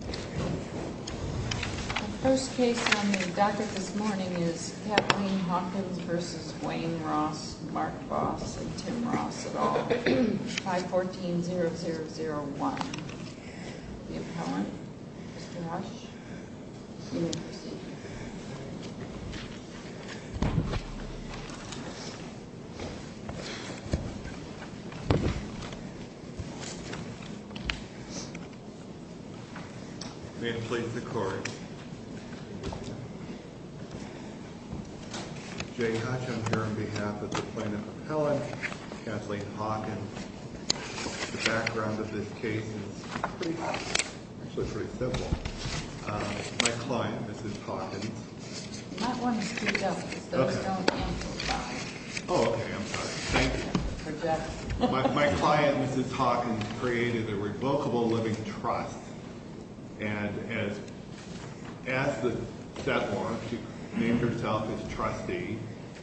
The first case on the docket this morning is Kathleen Hawkins v. Wayne Ross, Mark Voss, and Tim Ross et al., 514-0001. The appellant, Mr. Hodge, you may proceed. May it please the Court. Jay Hodge, I'm here on behalf of the plaintiff appellant, Kathleen Hawkins. The background of this case is pretty, actually pretty simple. My client, Mrs. Hawkins... You might want to speak up because those don't amplify. Oh, okay, I'm sorry. Thank you. My client, Mrs. Hawkins, created a revocable living trust. And as the set law, she named herself as trustee.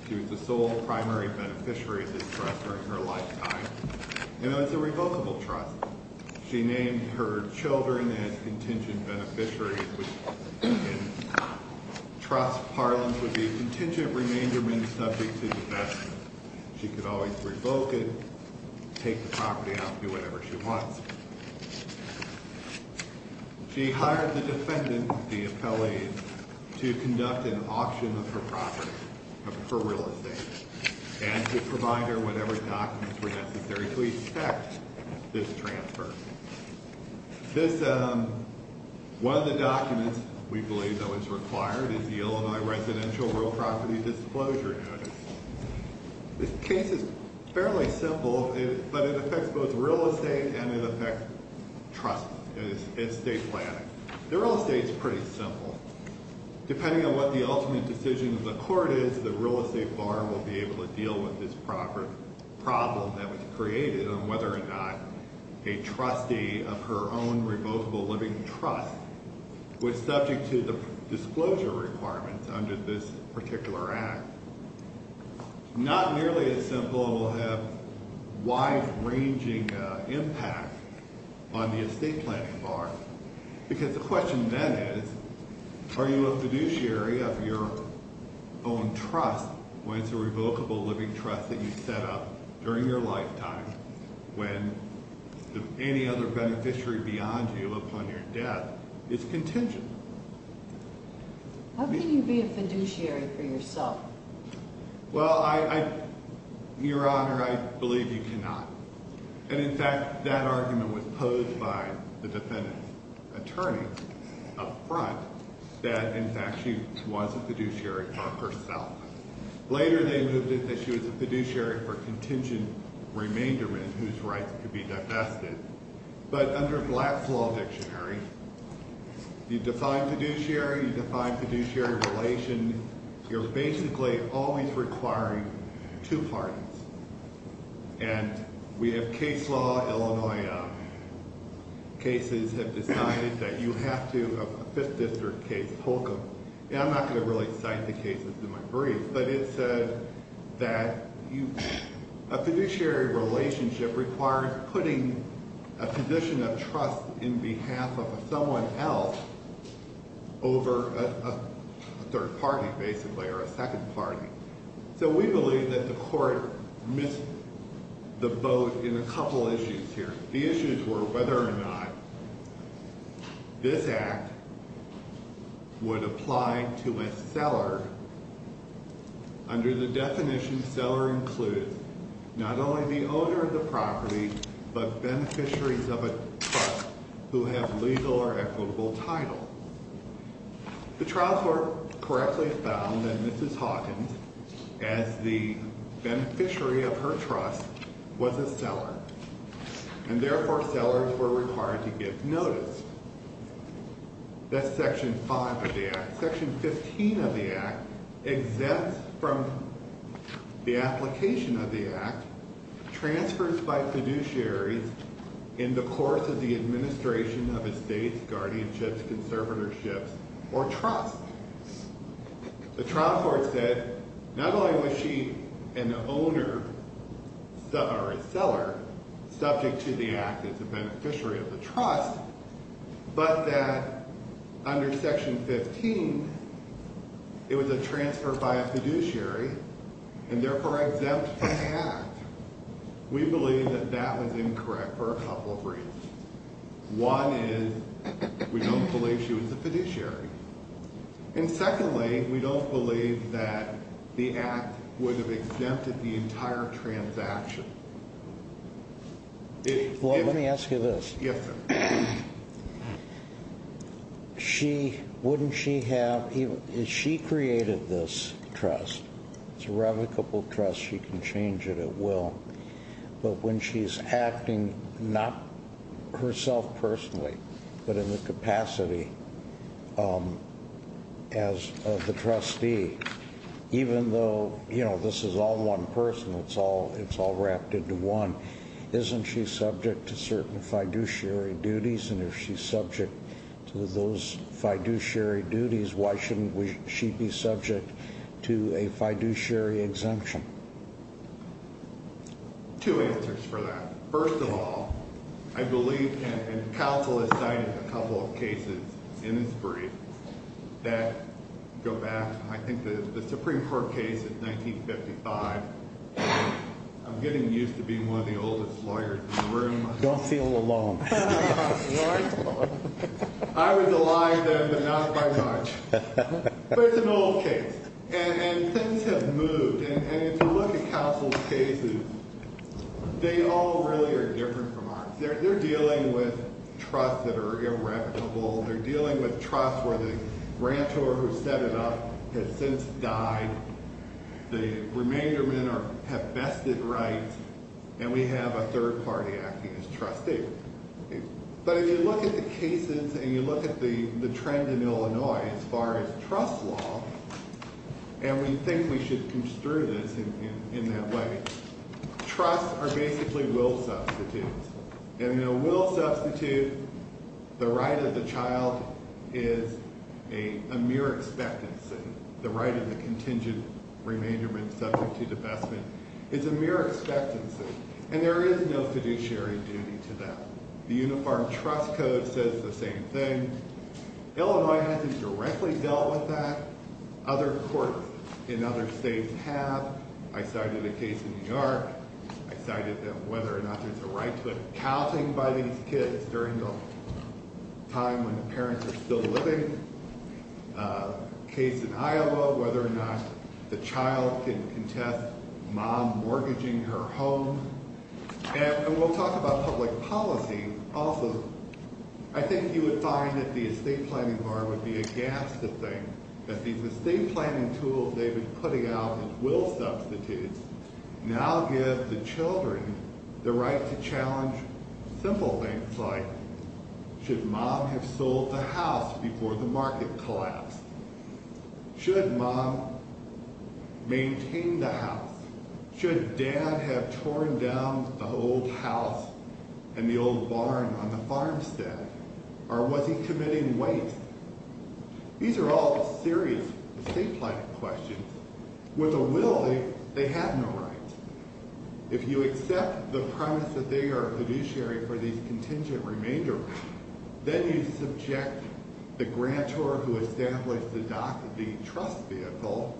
She was the sole primary beneficiary of this trust during her lifetime. And it was a revocable trust. She named her children as contingent beneficiaries, which in trust parlance would be contingent remaindermen subject to divestment. She could always revoke it, take the property out, do whatever she wants. She hired the defendant, the appellee, to conduct an auction of her property, of her real estate, and to provide her whatever documents were necessary to expect this transfer. One of the documents we believe that was required is the Illinois Residential Real Property Disclosure Notice. This case is fairly simple, but it affects both real estate and it affects trust, estate planning. The real estate is pretty simple. Depending on what the ultimate decision of the court is, the real estate bar will be able to deal with this problem that was created on whether or not a trustee of her own revocable living trust was subject to the disclosure requirements under this particular act. Not nearly as simple, it will have wide-ranging impact on the estate planning bar. Because the question then is, are you a fiduciary of your own trust when it's a revocable living trust that you set up during your lifetime when any other beneficiary beyond you upon your death is contingent? How can you be a fiduciary for yourself? Well, Your Honor, I believe you cannot. And, in fact, that argument was posed by the defendant's attorney up front that, in fact, she was a fiduciary for herself. Later they moved it that she was a fiduciary for contingent remaindermen whose rights could be divested. But under Black's Law Dictionary, you define fiduciary, you define fiduciary relation. You're basically always requiring two parties. And we have case law, Illinois cases have decided that you have to, a Fifth District case, Holcomb, and I'm not going to really cite the cases in my brief, but it said that a fiduciary relationship requires putting a position of trust in behalf of someone else over a third party, basically, or a second party. So we believe that the court missed the boat in a couple issues here. The issues were whether or not this act would apply to a seller. Under the definition, seller includes not only the owner of the property, but beneficiaries of a trust who have legal or equitable title. The trial court correctly found that Mrs. Hawkins, as the beneficiary of her trust, was a seller. And therefore, sellers were required to give notice. That's Section 5 of the act. Section 15 of the act exempts from the application of the act transfers by fiduciaries in the course of the administration of estates, guardianships, conservatorships, or trusts. The trial court said, not only was she an owner, or a seller, subject to the act as a beneficiary of the trust, but that under Section 15, it was a transfer by a fiduciary, and therefore exempt from the act. We believe that that was incorrect for a couple of reasons. One is we don't believe she was a fiduciary. And secondly, we don't believe that the act would have exempted the entire transaction. Well, let me ask you this. Yes, sir. She, wouldn't she have, she created this trust. It's a revocable trust. She can change it at will. But when she's acting, not herself personally, but in the capacity as the trustee, even though this is all one person, it's all wrapped into one, isn't she subject to certain fiduciary duties? And if she's subject to those fiduciary duties, why shouldn't she be subject to a fiduciary exemption? Two answers for that. First of all, I believe, and counsel has cited a couple of cases in this brief that go back, I think, to the Supreme Court case in 1955. I'm getting used to being one of the oldest lawyers in the room. Don't feel alone. I was alive then, but not by much. But it's an old case. And things have moved. And if you look at counsel's cases, they all really are different from ours. They're dealing with trusts that are irrevocable. They're dealing with trusts where the grantor who set it up has since died. The remainder men have vested rights. And we have a third party acting as trustee. But if you look at the cases and you look at the trend in Illinois as far as trust law, and we think we should construe this in that way, trusts are basically will substitutes. And in a will substitute, the right of the child is a mere expectancy. The right of the contingent remainder men subject to divestment is a mere expectancy. And there is no fiduciary duty to that. The Uniform Trust Code says the same thing. Illinois hasn't directly dealt with that. Other courts in other states have. I cited a case in New York. I cited whether or not there's a right to accounting by these kids during the time when the parents are still living. A case in Iowa, whether or not the child can contest mom mortgaging her home. And we'll talk about public policy also. I think you would find that the estate planning bar would be aghast to think that these estate planning tools they've been putting out as will substitutes now give the children the right to challenge simple things like should mom have sold the house before the market collapsed? Should mom maintain the house? Should dad have torn down the old house and the old barn on the farmstead? Or was he committing waste? These are all serious estate planning questions. With a will, they have no right. If you accept the premise that they are a fiduciary for these contingent remainder, then you subject the grantor who established the trust vehicle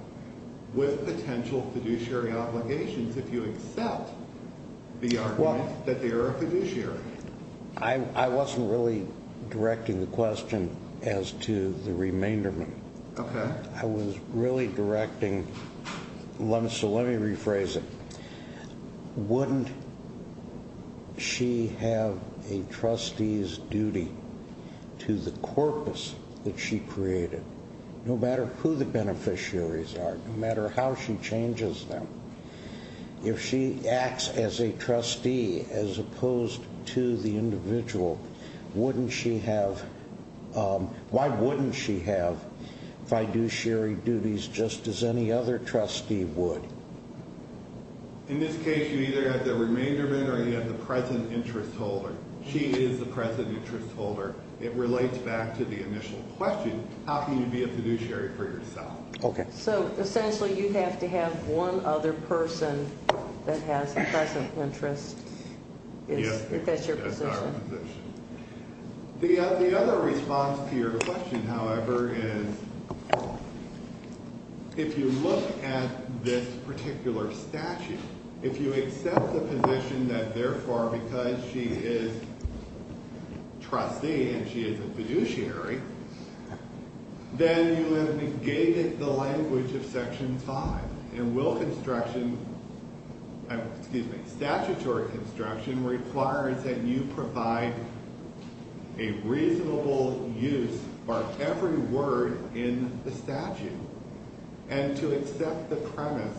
with potential fiduciary obligations if you accept the argument that they are a fiduciary. I wasn't really directing the question as to the remainder. I was really directing, so let me rephrase it. Wouldn't she have a trustee's duty to the corpus that she created? No matter who the beneficiaries are, no matter how she changes them, if she acts as a trustee as opposed to the individual, why wouldn't she have fiduciary duties just as any other trustee would? In this case, you either have the remainder vendor or you have the present interest holder. She is the present interest holder. It relates back to the initial question, how can you be a fiduciary for yourself? So, essentially, you have to have one other person that has the present interest if that's your position. The other response to your question, however, is if you look at this particular statute, if you accept the position that, therefore, because she is a trustee and she is a fiduciary, then you have negated the language of Section 5. Statutory construction requires that you provide a reasonable use for every word in the statute. And to accept the premise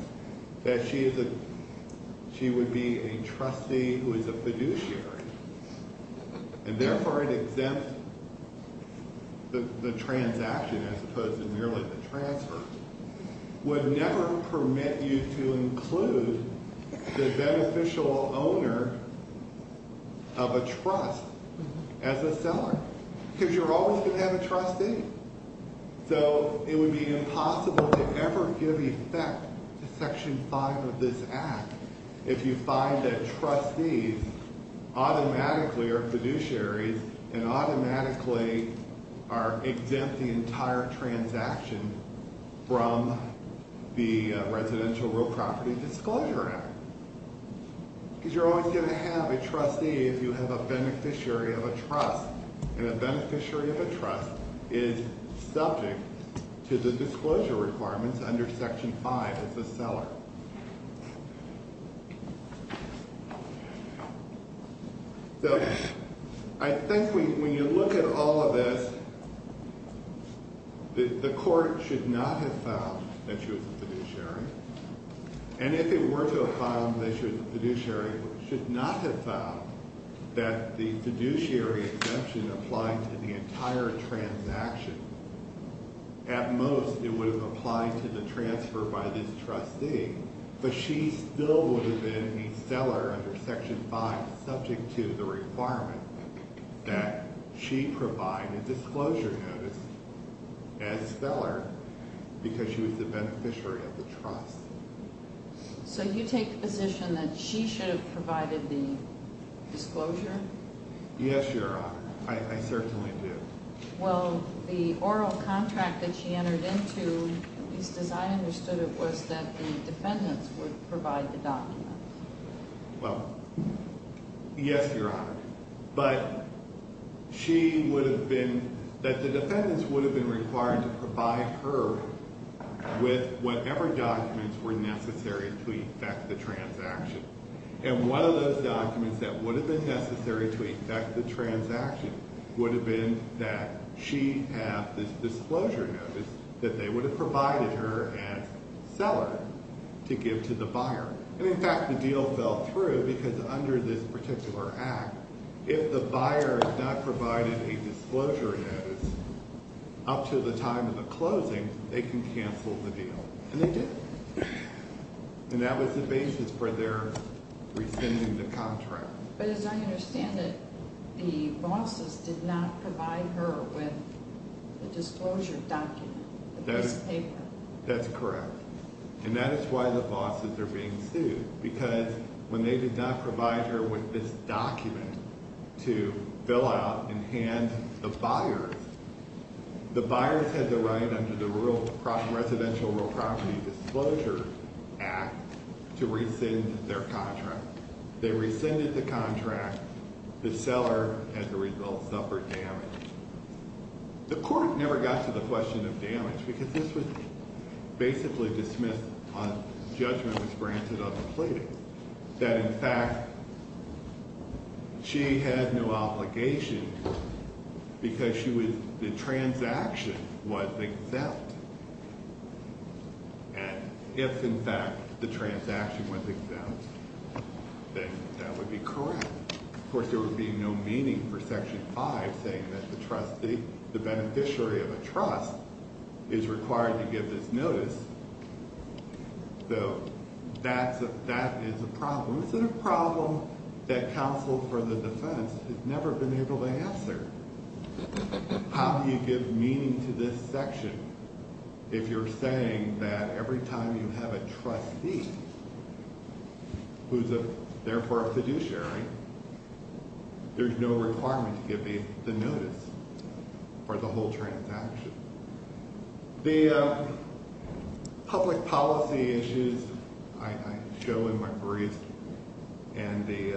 that she would be a trustee who is a fiduciary, and, therefore, it exempts the transaction as opposed to merely the transfer, would never permit you to include the beneficial owner of a trust as a seller. Because you're always going to have a trustee. So, it would be impossible to ever give effect to Section 5 of this Act if you find that trustees automatically are fiduciaries and automatically exempt the entire transaction from the Residential Real Property Disclosure Act. Because you're always going to have a trustee if you have a beneficiary of a trust. And a beneficiary of a trust is subject to the disclosure requirements under Section 5 as a seller. So, I think when you look at all of this, the Court should not have found that she was a fiduciary. And if it were to have found that she was a fiduciary, it should not have found that the fiduciary exemption applied to the entire transaction. At most, it would have applied to the transfer by this trustee. But she still would have been a seller under Section 5 subject to the requirement that she provide a disclosure notice as seller because she was a beneficiary of the trust. So, you take the position that she should have provided the disclosure? Yes, Your Honor. I certainly do. Well, the oral contract that she entered into, at least as I understood it, was that the defendants would provide the document. Well, yes, Your Honor. But she would have been, that the defendants would have been required to provide her with whatever documents were necessary to effect the transaction. And one of those documents that would have been necessary to effect the transaction would have been that she have this disclosure notice that they would have provided her as seller to give to the buyer. And in fact, the deal fell through because under this particular act, if the buyer has not provided a disclosure notice up to the time of the closing, they can cancel the deal. And they did. And that was the basis for their rescinding the contract. But as I understand it, the bosses did not provide her with the disclosure document, this paper. That's correct. And that is why the bosses are being sued. Because when they did not provide her with this document to fill out and hand to the buyers, the buyers had the right under the Residential Real Property Disclosure Act to rescind their contract. They rescinded the contract. The seller, as a result, suffered damage. The court never got to the question of damage because this was basically dismissed on judgment was granted on the plating. That in fact, she had no obligation because the transaction was exempt. And if in fact the transaction was exempt, then that would be correct. Of course, there would be no meaning for Section 5 saying that the trustee, the beneficiary of a trust, is required to give this notice. So that is a problem. It's a problem that counsel for the defense has never been able to answer. How do you give meaning to this section if you're saying that every time you have a trustee, who's therefore a fiduciary, there's no requirement to give the notice for the whole transaction? The public policy issues I show in my briefs and the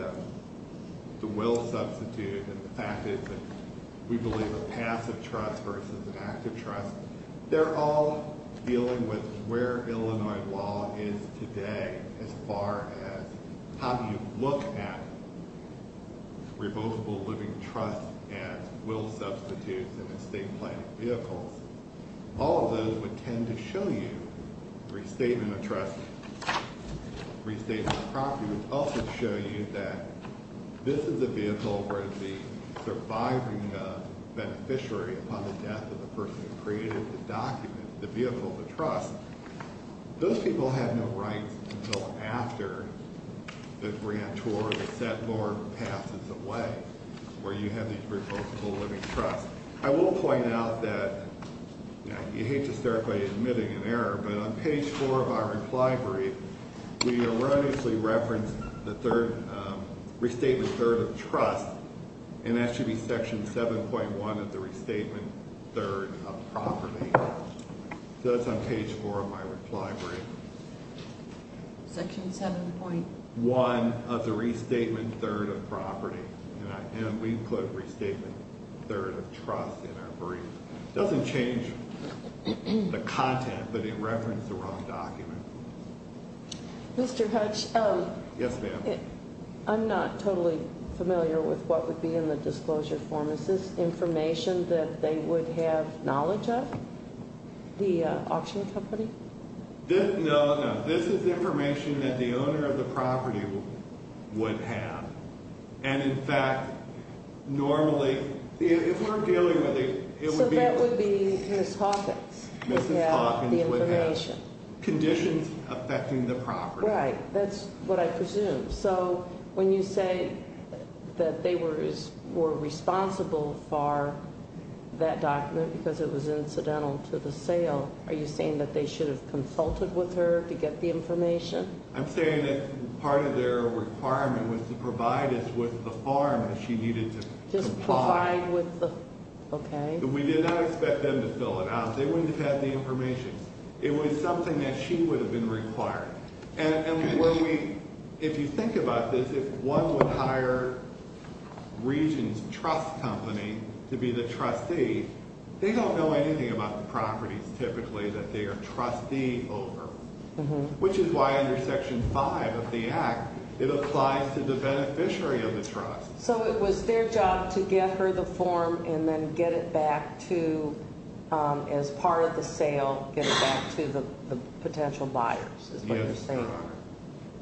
will substitute, and the fact is that we believe a passive trust versus an active trust, they're all dealing with where Illinois law is today as far as how do you look at revocable living trust as will substitutes and estate planning vehicles. All of those would tend to show you restatement of trust. Restatement of property would also show you that this is a vehicle where the surviving beneficiary upon the death of the person who created the document, the vehicle of the trust, those people have no rights until after the grantor, the set lord passes away where you have these revocable living trusts. I will point out that, you hate to start by admitting an error, but on page 4 of our reply brief, we erroneously referenced the third, restatement third of trust, and that should be section 7.1 of the restatement third of property. So that's on page 4 of my reply brief. Section 7.1 of the restatement third of property. And we put restatement third of trust in our brief. It doesn't change the content, but it referenced the wrong document. Mr. Hutch. Yes, ma'am. I'm not totally familiar with what would be in the disclosure form. Is this information that they would have knowledge of, the auction company? No, no. This is information that the owner of the property would have. And in fact, normally, if we're dealing with a... So that would be Mrs. Hawkins would have the information. Conditions affecting the property. Right. That's what I presume. So when you say that they were responsible for that document because it was incidental to the sale, are you saying that they should have consulted with her to get the information? I'm saying that part of their requirement was to provide us with the farm that she needed to supply. Just provide with the... Okay. We did not expect them to fill it out. They wouldn't have had the information. It was something that she would have been required. And if you think about this, if one would hire Regions Trust Company to be the trustee, they don't know anything about the properties typically that they are trustee over. Which is why under Section 5 of the Act, it applies to the beneficiary of the trust. So it was their job to get her the form and then get it back to, as part of the sale, get it back to the potential buyers. Yes, Your Honor.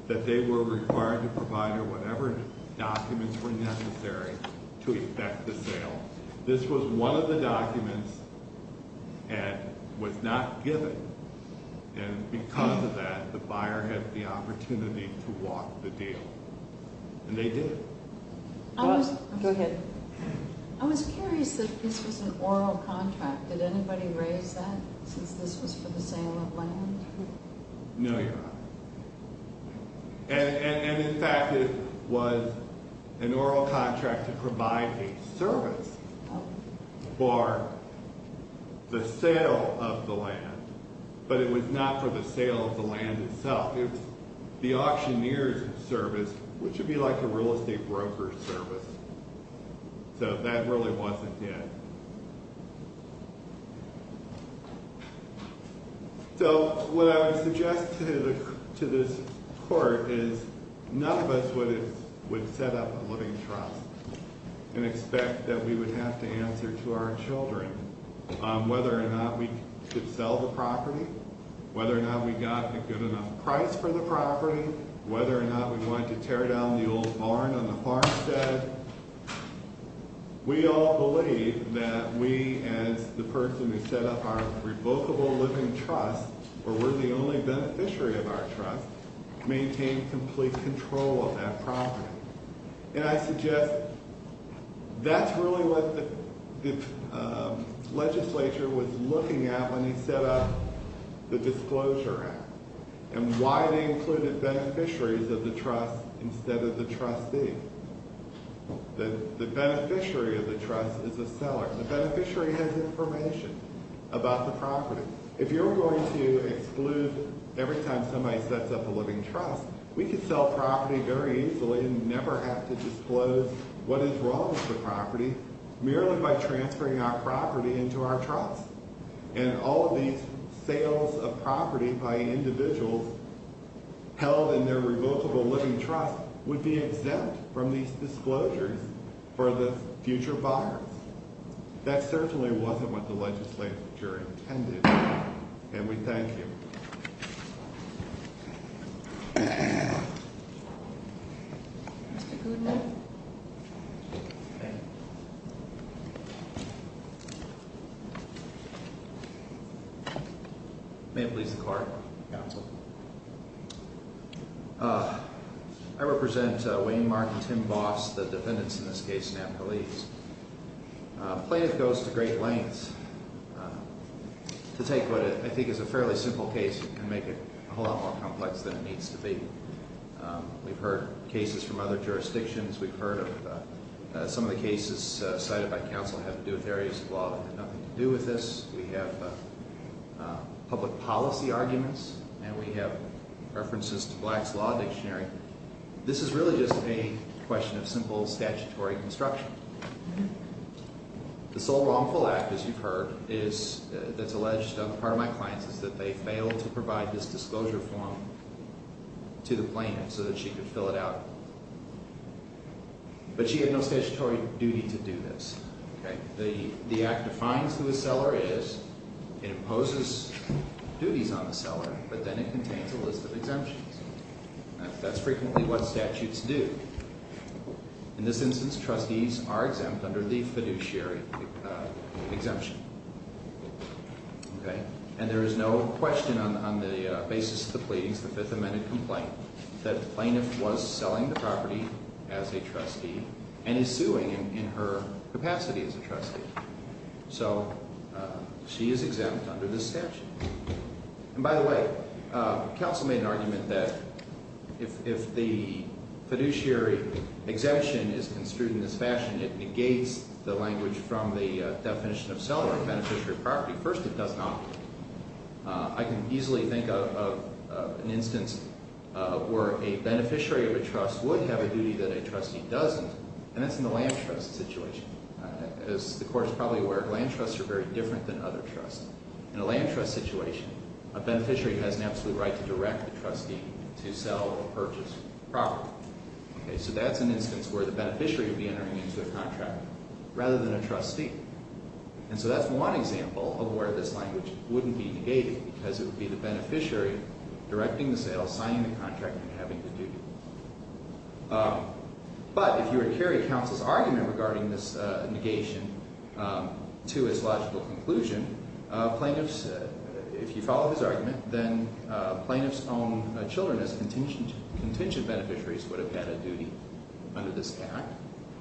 That they were required to provide her whatever documents were necessary to effect the sale. This was one of the documents that was not given. And because of that, the buyer had the opportunity to walk the deal. And they did. Go ahead. I was curious that this was an oral contract. Did anybody raise that since this was for the sale of land? No, Your Honor. And in fact, it was an oral contract to provide a service for the sale of the land. But it was not for the sale of the land itself. It was the auctioneer's service, which would be like a real estate broker's service. So that really wasn't it. So what I would suggest to this Court is none of us would set up a living trust and expect that we would have to answer to our children whether or not we could sell the property, whether or not we got a good enough price for the property, whether or not we wanted to tear down the old barn on the farmstead. We all believe that we, as the person who set up our revocable living trust, or we're the only beneficiary of our trust, maintain complete control of that property. And I suggest that's really what the legislature was looking at when they set up the Disclosure Act and why they included beneficiaries of the trust instead of the trustee. The beneficiary of the trust is a seller. The beneficiary has information about the property. If you're going to exclude every time somebody sets up a living trust, we could sell property very easily and never have to disclose what is wrong with the property merely by transferring our property into our trust. And all of these sales of property by individuals held in their revocable living trust would be exempt from these disclosures for the future buyers. That certainly wasn't what the legislature intended. And we thank you. May it please the Court. Counsel. I represent Wayne Mark and Tim Boss, the defendants in this case, Napoli. Plaintiff goes to great lengths to take what I think is a fairly simple case and make it a whole lot more complex than it needs to be. We've heard cases from other jurisdictions. We've heard of some of the cases cited by counsel have to do with areas of law that have nothing to do with this. We have public policy arguments and we have references to Black's Law Dictionary. This is really just a question of simple statutory construction. The sole wrongful act, as you've heard, that's alleged of part of my clients is that they failed to provide this disclosure form to the plaintiff so that she could fill it out. But she had no statutory duty to do this. The act defines who the seller is. It imposes duties on the seller, but then it contains a list of exemptions. That's frequently what statutes do. In this instance, trustees are exempt under the fiduciary exemption. And there is no question on the basis of the pleadings, the Fifth Amendment complaint, that the plaintiff was selling the property as a trustee and is suing in her capacity as a trustee. So she is exempt under this statute. And by the way, counsel made an argument that if the fiduciary exemption is construed in this fashion, it negates the language from the definition of seller and beneficiary property. First, it does not. I can easily think of an instance where a beneficiary of a trust would have a duty that a trustee doesn't, and that's in the land trust situation. As the Court is probably aware, land trusts are very different than other trusts. In a land trust situation, a beneficiary has an absolute right to direct a trustee to sell or purchase property. So that's an instance where the beneficiary would be entering into a contract rather than a trustee. And so that's one example of where this language wouldn't be negated, because it would be the beneficiary directing the sale, signing the contract, and having the duty. But if you would carry counsel's argument regarding this negation to its logical conclusion, if you follow his argument, then plaintiff's own children as contingent beneficiaries would have had a duty under this Act.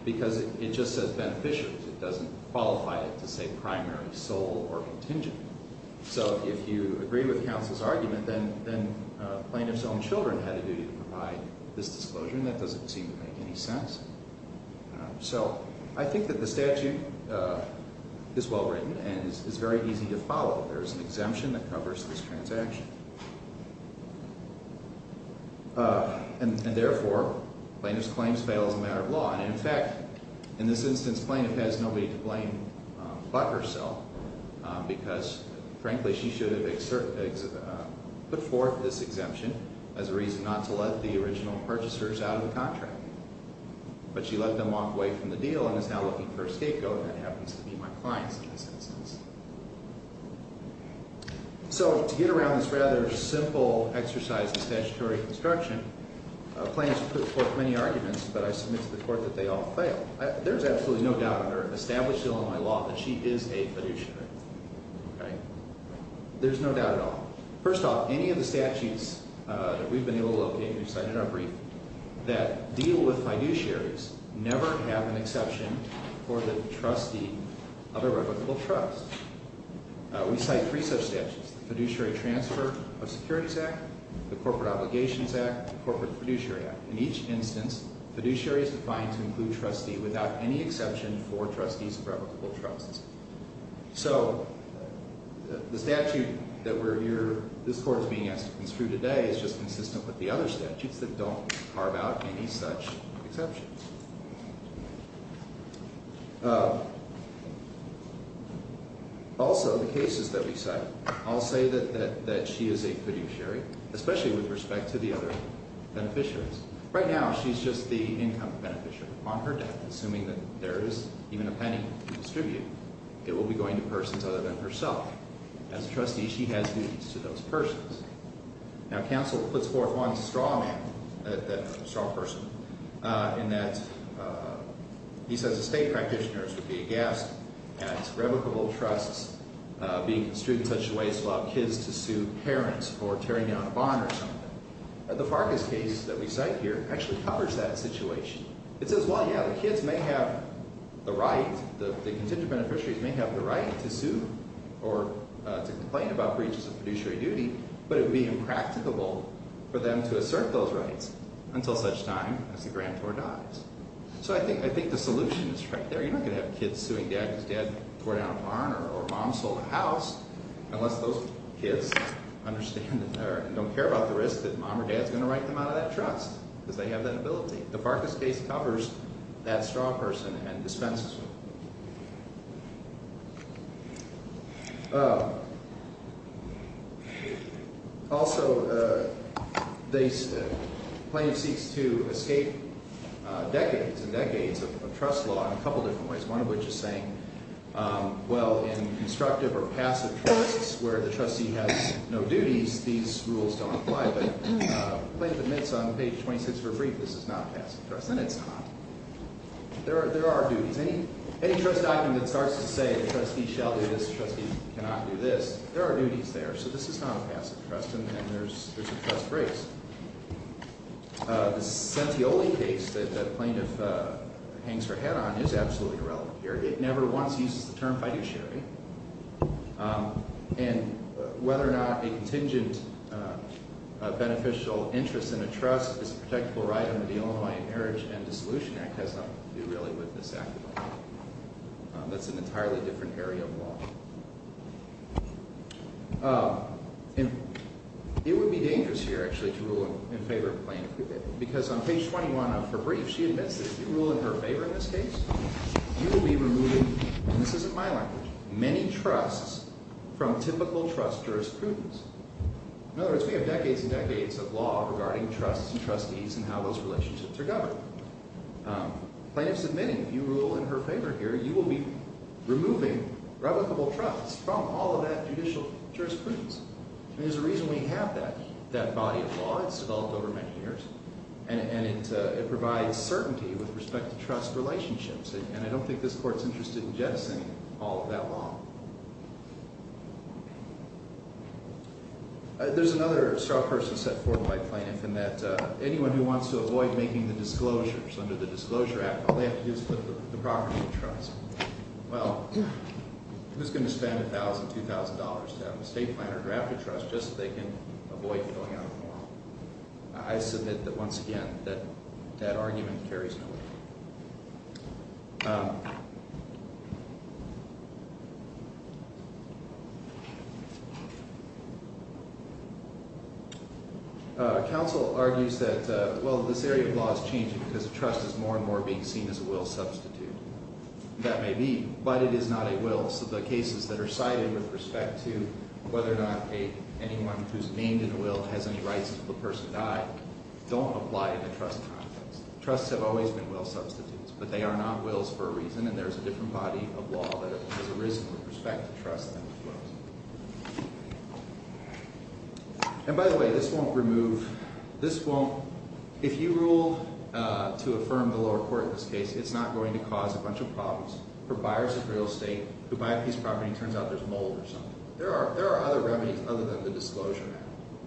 Because it just says beneficiaries. It doesn't qualify it to say primary, sole, or contingent. So if you agree with counsel's argument, then plaintiff's own children had a duty to provide this disclosure, and that doesn't seem to make any sense. So I think that the statute is well written and is very easy to follow. There is an exemption that covers this transaction. And therefore, plaintiff's claims fail as a matter of law. And in fact, in this instance, plaintiff has nobody to blame but herself, because frankly, she should have put forth this exemption as a reason not to let the original purchasers out of the contract. But she let them off way from the deal and is now looking for a scapegoat, and that happens to be my clients in this instance. So to get around this rather simple exercise in statutory construction, plaintiffs put forth many arguments, but I submit to the court that they all fail. There's absolutely no doubt under established Illinois law that she is a fiduciary. Okay? There's no doubt at all. First off, any of the statutes that we've been able to locate and we've cited in our brief that deal with fiduciaries never have an exception for the trustee of a reputable trust. We cite three such statutes, the Fiduciary Transfer of Securities Act, the Corporate Obligations Act, and the Corporate Fiduciary Act. In each instance, fiduciary is defined to include trustee without any exception for trustees of reputable trusts. So the statute that this court is being asked to construe today is just consistent with the other statutes that don't carve out any such exceptions. Also, the cases that we cite, I'll say that she is a fiduciary, especially with respect to the other beneficiaries. Right now, she's just the income beneficiary. Upon her death, assuming that there is even a penny to distribute, it will be going to persons other than herself. As a trustee, she has duties to those persons. Now, counsel puts forth one straw man, straw person, in that he says the state practitioners would be aghast at reputable trusts being construed in such a way as to allow kids to sue parents for tearing down a bond or something. The Farkas case that we cite here actually covers that situation. It says, well, yeah, the kids may have the right, the contingent beneficiaries may have the right to sue or to complain about breaches of fiduciary duty, but it would be impracticable for them to assert those rights until such time as the grantor dies. So I think the solution is right there. You're not going to have kids suing dad because dad tore down a barn or mom sold a house unless those kids understand and don't care about the risk that mom or dad is going to write them out of that trust because they have that ability. The Farkas case covers that straw person and dispenses with it. Also, the plaintiff seeks to escape decades and decades of trust law in a couple of different ways, one of which is saying, well, in constructive or passive trusts where the trustee has no duties, these rules don't apply. But the plaintiff admits on page 26 of her brief this is not passive trust, and it's not. There are duties. Any trust document that starts to say the trustee shall do this, the trustee cannot do this, there are duties there. So this is not a passive trust, and there's a trust brace. The Sentioli case that the plaintiff hangs her head on is absolutely irrelevant here. It never once uses the term fiduciary. And whether or not a contingent beneficial interest in a trust is a protectable right under the Illinois Marriage and Dissolution Act has nothing to do really with this act at all. That's an entirely different area of law. It would be dangerous here, actually, to rule in favor of a plaintiff because on page 21 of her brief she admits that if you rule in her favor in this case, you will be removing, and this isn't my language, many trusts from typical trust jurisprudence. In other words, we have decades and decades of law regarding trusts and trustees and how those relationships are governed. The plaintiff's admitting, if you rule in her favor here, you will be removing revocable trusts from all of that judicial jurisprudence. And there's a reason we have that body of law. It's developed over many years, and it provides certainty with respect to trust relationships, and I don't think this court's interested in jettisoning all of that law. There's another strong person set forth by plaintiff in that anyone who wants to avoid making the disclosures under the Disclosure Act, all they have to do is put the property in the trust. Well, who's going to spend $1,000, $2,000 to have a estate plan or draft a trust just so they can avoid filling out a form? I submit that, once again, that argument carries no weight. Counsel argues that, well, this area of law is changing because trust is more and more being seen as a will substitute. That may be, but it is not a will, so the cases that are cited with respect to whether or not anyone who's named in a will has any rights until the person died don't apply in a trust context. Trusts have always been will substitutes, but they are not wills for a reason, and there's a different body of law that has arisen with respect to trust than with wills. And, by the way, this won't remove – this won't – if you rule to affirm the lower court in this case, it's not going to cause a bunch of problems for buyers of real estate who buy a piece of property and it turns out there's mold or something. There are other remedies other than the Disclosure Act.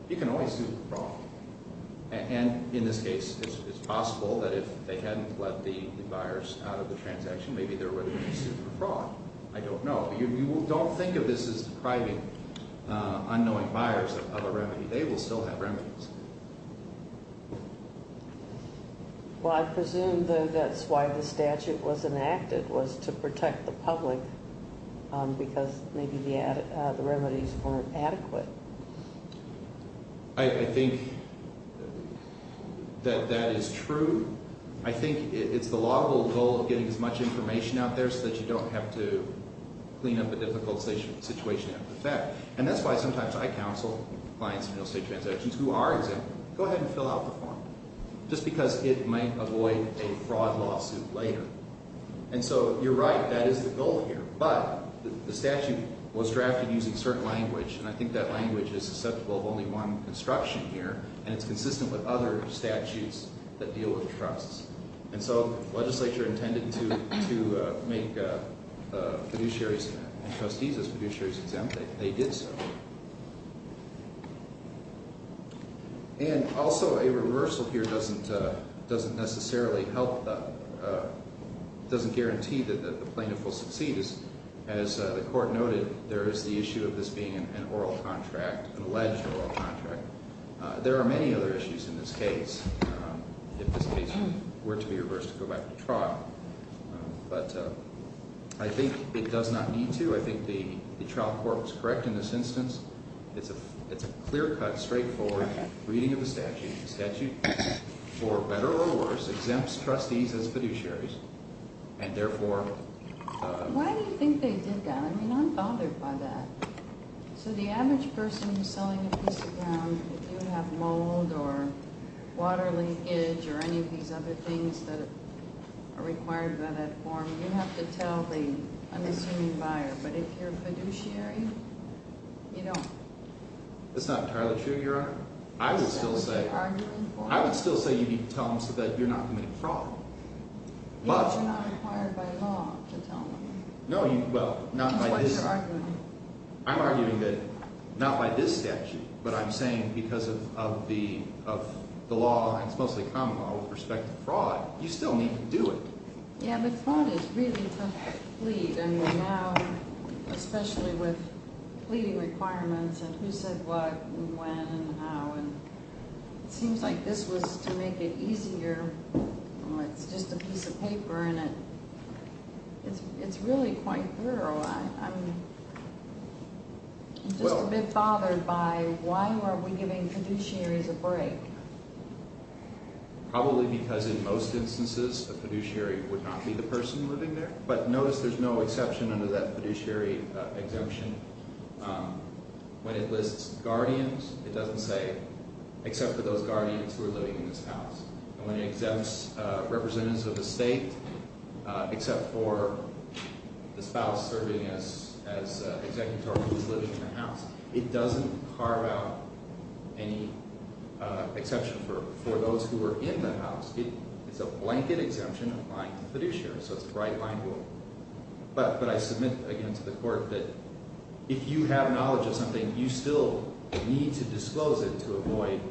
You can always sue for fraud. And, in this case, it's possible that if they hadn't let the buyers out of the transaction, maybe there would have been sued for fraud. I don't know. You don't think of this as depriving unknowing buyers of a remedy. They will still have remedies. Well, I presume, though, that's why the statute was enacted, was to protect the public because maybe the remedies weren't adequate. I think that that is true. I think it's the lawful goal of getting as much information out there so that you don't have to clean up a difficult situation after the fact. And that's why sometimes I counsel clients in real estate transactions who are exempt. Go ahead and fill out the form just because it might avoid a fraud lawsuit later. And so you're right. That is the goal here. But the statute was drafted using certain language, and I think that language is susceptible of only one construction here, and it's consistent with other statutes that deal with trusts. And so the legislature intended to make fiduciaries and trustees as fiduciaries exempt. They did so. And also a reversal here doesn't necessarily help – doesn't guarantee that the plaintiff will succeed. As the court noted, there is the issue of this being an oral contract, an alleged oral contract. There are many other issues in this case if this case were to be reversed to go back to trial. But I think it does not need to. I think the trial court was correct in this instance. It's a clear-cut, straightforward reading of the statute. The statute, for better or worse, exempts trustees as fiduciaries, and therefore – Why do you think they did that? I mean, I'm bothered by that. So the average person who's selling a piece of ground, if you have mold or water linkage or any of these other things that are required by that form, you have to tell the unassuming buyer. But if you're a fiduciary, you don't. That's not entirely true, Your Honor. I would still say – Is that what you're arguing for? I would still say you need to tell them so that you're not committing fraud. Yes, you're not required by law to tell them. No, you – well, not by this – That's why you're arguing. I'm arguing that not by this statute, but I'm saying because of the law, and it's mostly common law with respect to fraud, you still need to do it. Yeah, but fraud is really tough to plead. I mean, now, especially with pleading requirements and who said what and when and how, and it seems like this was to make it easier. It's just a piece of paper, and it's really quite thorough. I'm just a bit bothered by why were we giving fiduciaries a break? Probably because in most instances, a fiduciary would not be the person living there. But notice there's no exception under that fiduciary exemption. When it lists guardians, it doesn't say except for those guardians who are living in this house. And when it exempts representatives of the state except for the spouse serving as an executor who's living in the house, it doesn't carve out any exception for those who are in the house. It's a blanket exemption applying to fiduciaries, so it's a right-line rule. But I submit, again, to the court that if you have knowledge of something, you still need to disclose it to avoid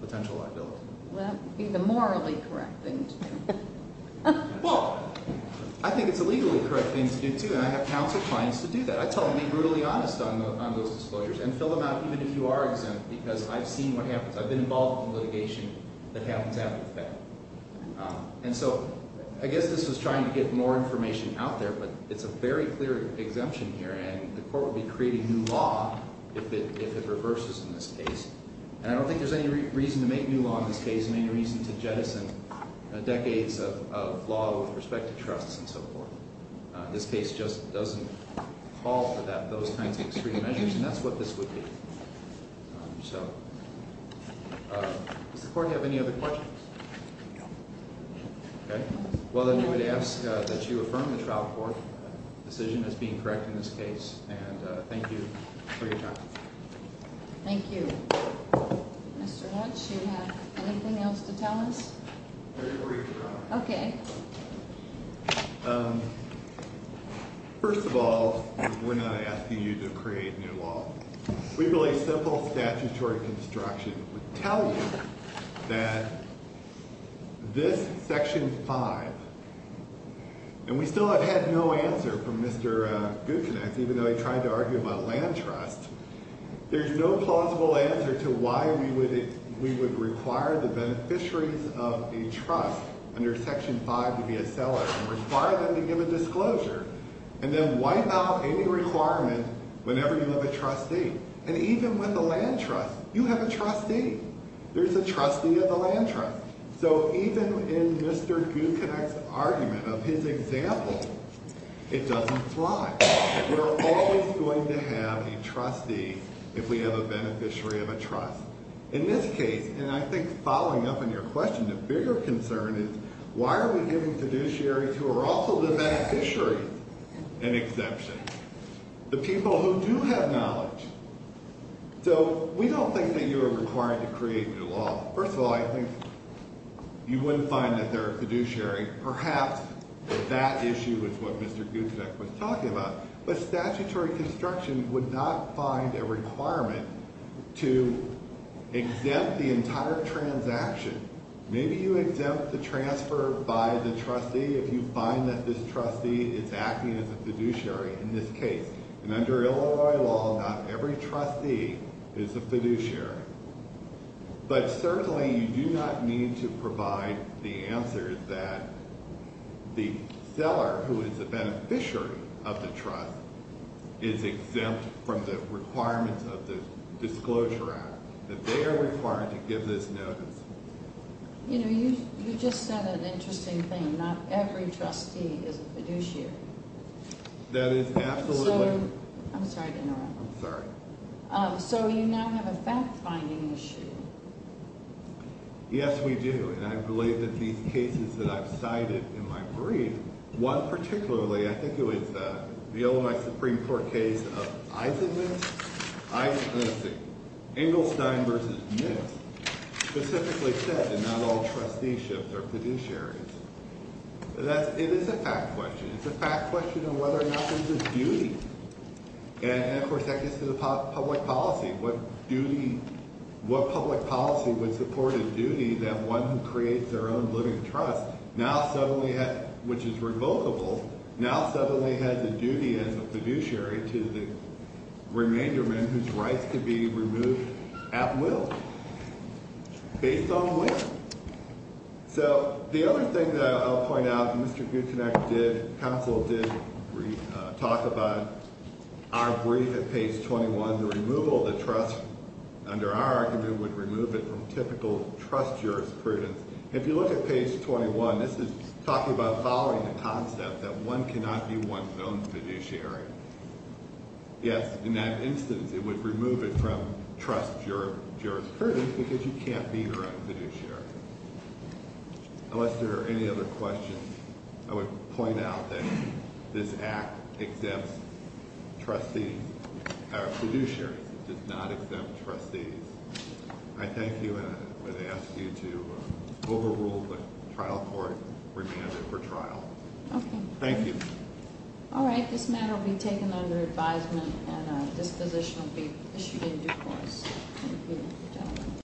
potential liability. Well, that would be the morally correct thing to do. Well, I think it's a legally correct thing to do, too, and I have counseled clients to do that. I tell them to be brutally honest on those disclosures and fill them out even if you are exempt because I've seen what happens. I've been involved in litigation that happens after the fact. And so I guess this was trying to get more information out there, but it's a very clear exemption here, and the court would be creating new law if it reverses in this case. And I don't think there's any reason to make new law in this case and any reason to jettison decades of law with respect to trusts and so forth. This case just doesn't call for those kinds of extreme measures, and that's what this would be. So does the court have any other questions? No. Okay. Well, then I would ask that you affirm the trial court decision as being correct in this case, and thank you for your time. Thank you. Mr. Dutch, do you have anything else to tell us? Very briefly, Your Honor. Okay. First of all, we're not asking you to create new law. We believe simple statutory construction would tell you that this Section 5, and we still have had no answer from Mr. Gucinex, even though he tried to argue about land trust. There's no plausible answer to why we would require the beneficiaries of a trust under Section 5 to be a seller and require them to give a disclosure and then wipe out any requirement whenever you have a trustee. And even with a land trust, you have a trustee. There's a trustee of the land trust. So even in Mr. Gucinex's argument of his example, it doesn't fly. We're always going to have a trustee if we have a beneficiary of a trust. In this case, and I think following up on your question, the bigger concern is why are we giving fiduciaries who are also the beneficiaries an exception, the people who do have knowledge? So we don't think that you are required to create new law. First of all, I think you wouldn't find that they're a fiduciary. Perhaps that issue is what Mr. Gucinex was talking about, but statutory construction would not find a requirement to exempt the entire transaction. Maybe you exempt the transfer by the trustee if you find that this trustee is acting as a fiduciary in this case. And under Illinois law, not every trustee is a fiduciary. But certainly you do not need to provide the answer that the seller who is a beneficiary of the trust is exempt from the requirements of the Disclosure Act, that they are required to give this notice. You know, you just said an interesting thing. Not every trustee is a fiduciary. That is absolutely. I'm sorry to interrupt. I'm sorry. So you now have a fact-finding issue. Yes, we do. And I believe that these cases that I've cited in my brief, one particularly, I think it was the Illinois Supreme Court case of Eisenstein v. Nix, specifically said that not all trusteeships are fiduciaries. It is a fact question. It's a fact question of whether or not there's a duty. And, of course, that gets to the public policy. What duty – what public policy would support a duty that one who creates their own living trust now suddenly has – which is revocable – now suddenly has a duty as a fiduciary to the remaindermen whose rights could be removed at will, based on will. So the other thing that I'll point out, Mr. Guttenegg did – counsel did talk about our brief at page 21. The removal of the trust under our argument would remove it from typical trust jurisprudence. If you look at page 21, this is talking about following the concept that one cannot be one's own fiduciary. Yes, in that instance, it would remove it from trust jurisprudence because you can't be your own fiduciary. Unless there are any other questions, I would point out that this Act exempts trustees – fiduciaries. It does not exempt trustees. I thank you, and I would ask you to overrule the trial court remanded for trial. Okay. Thank you. All right. This matter will be taken under advisement, and a disposition will be issued in due course. Good job.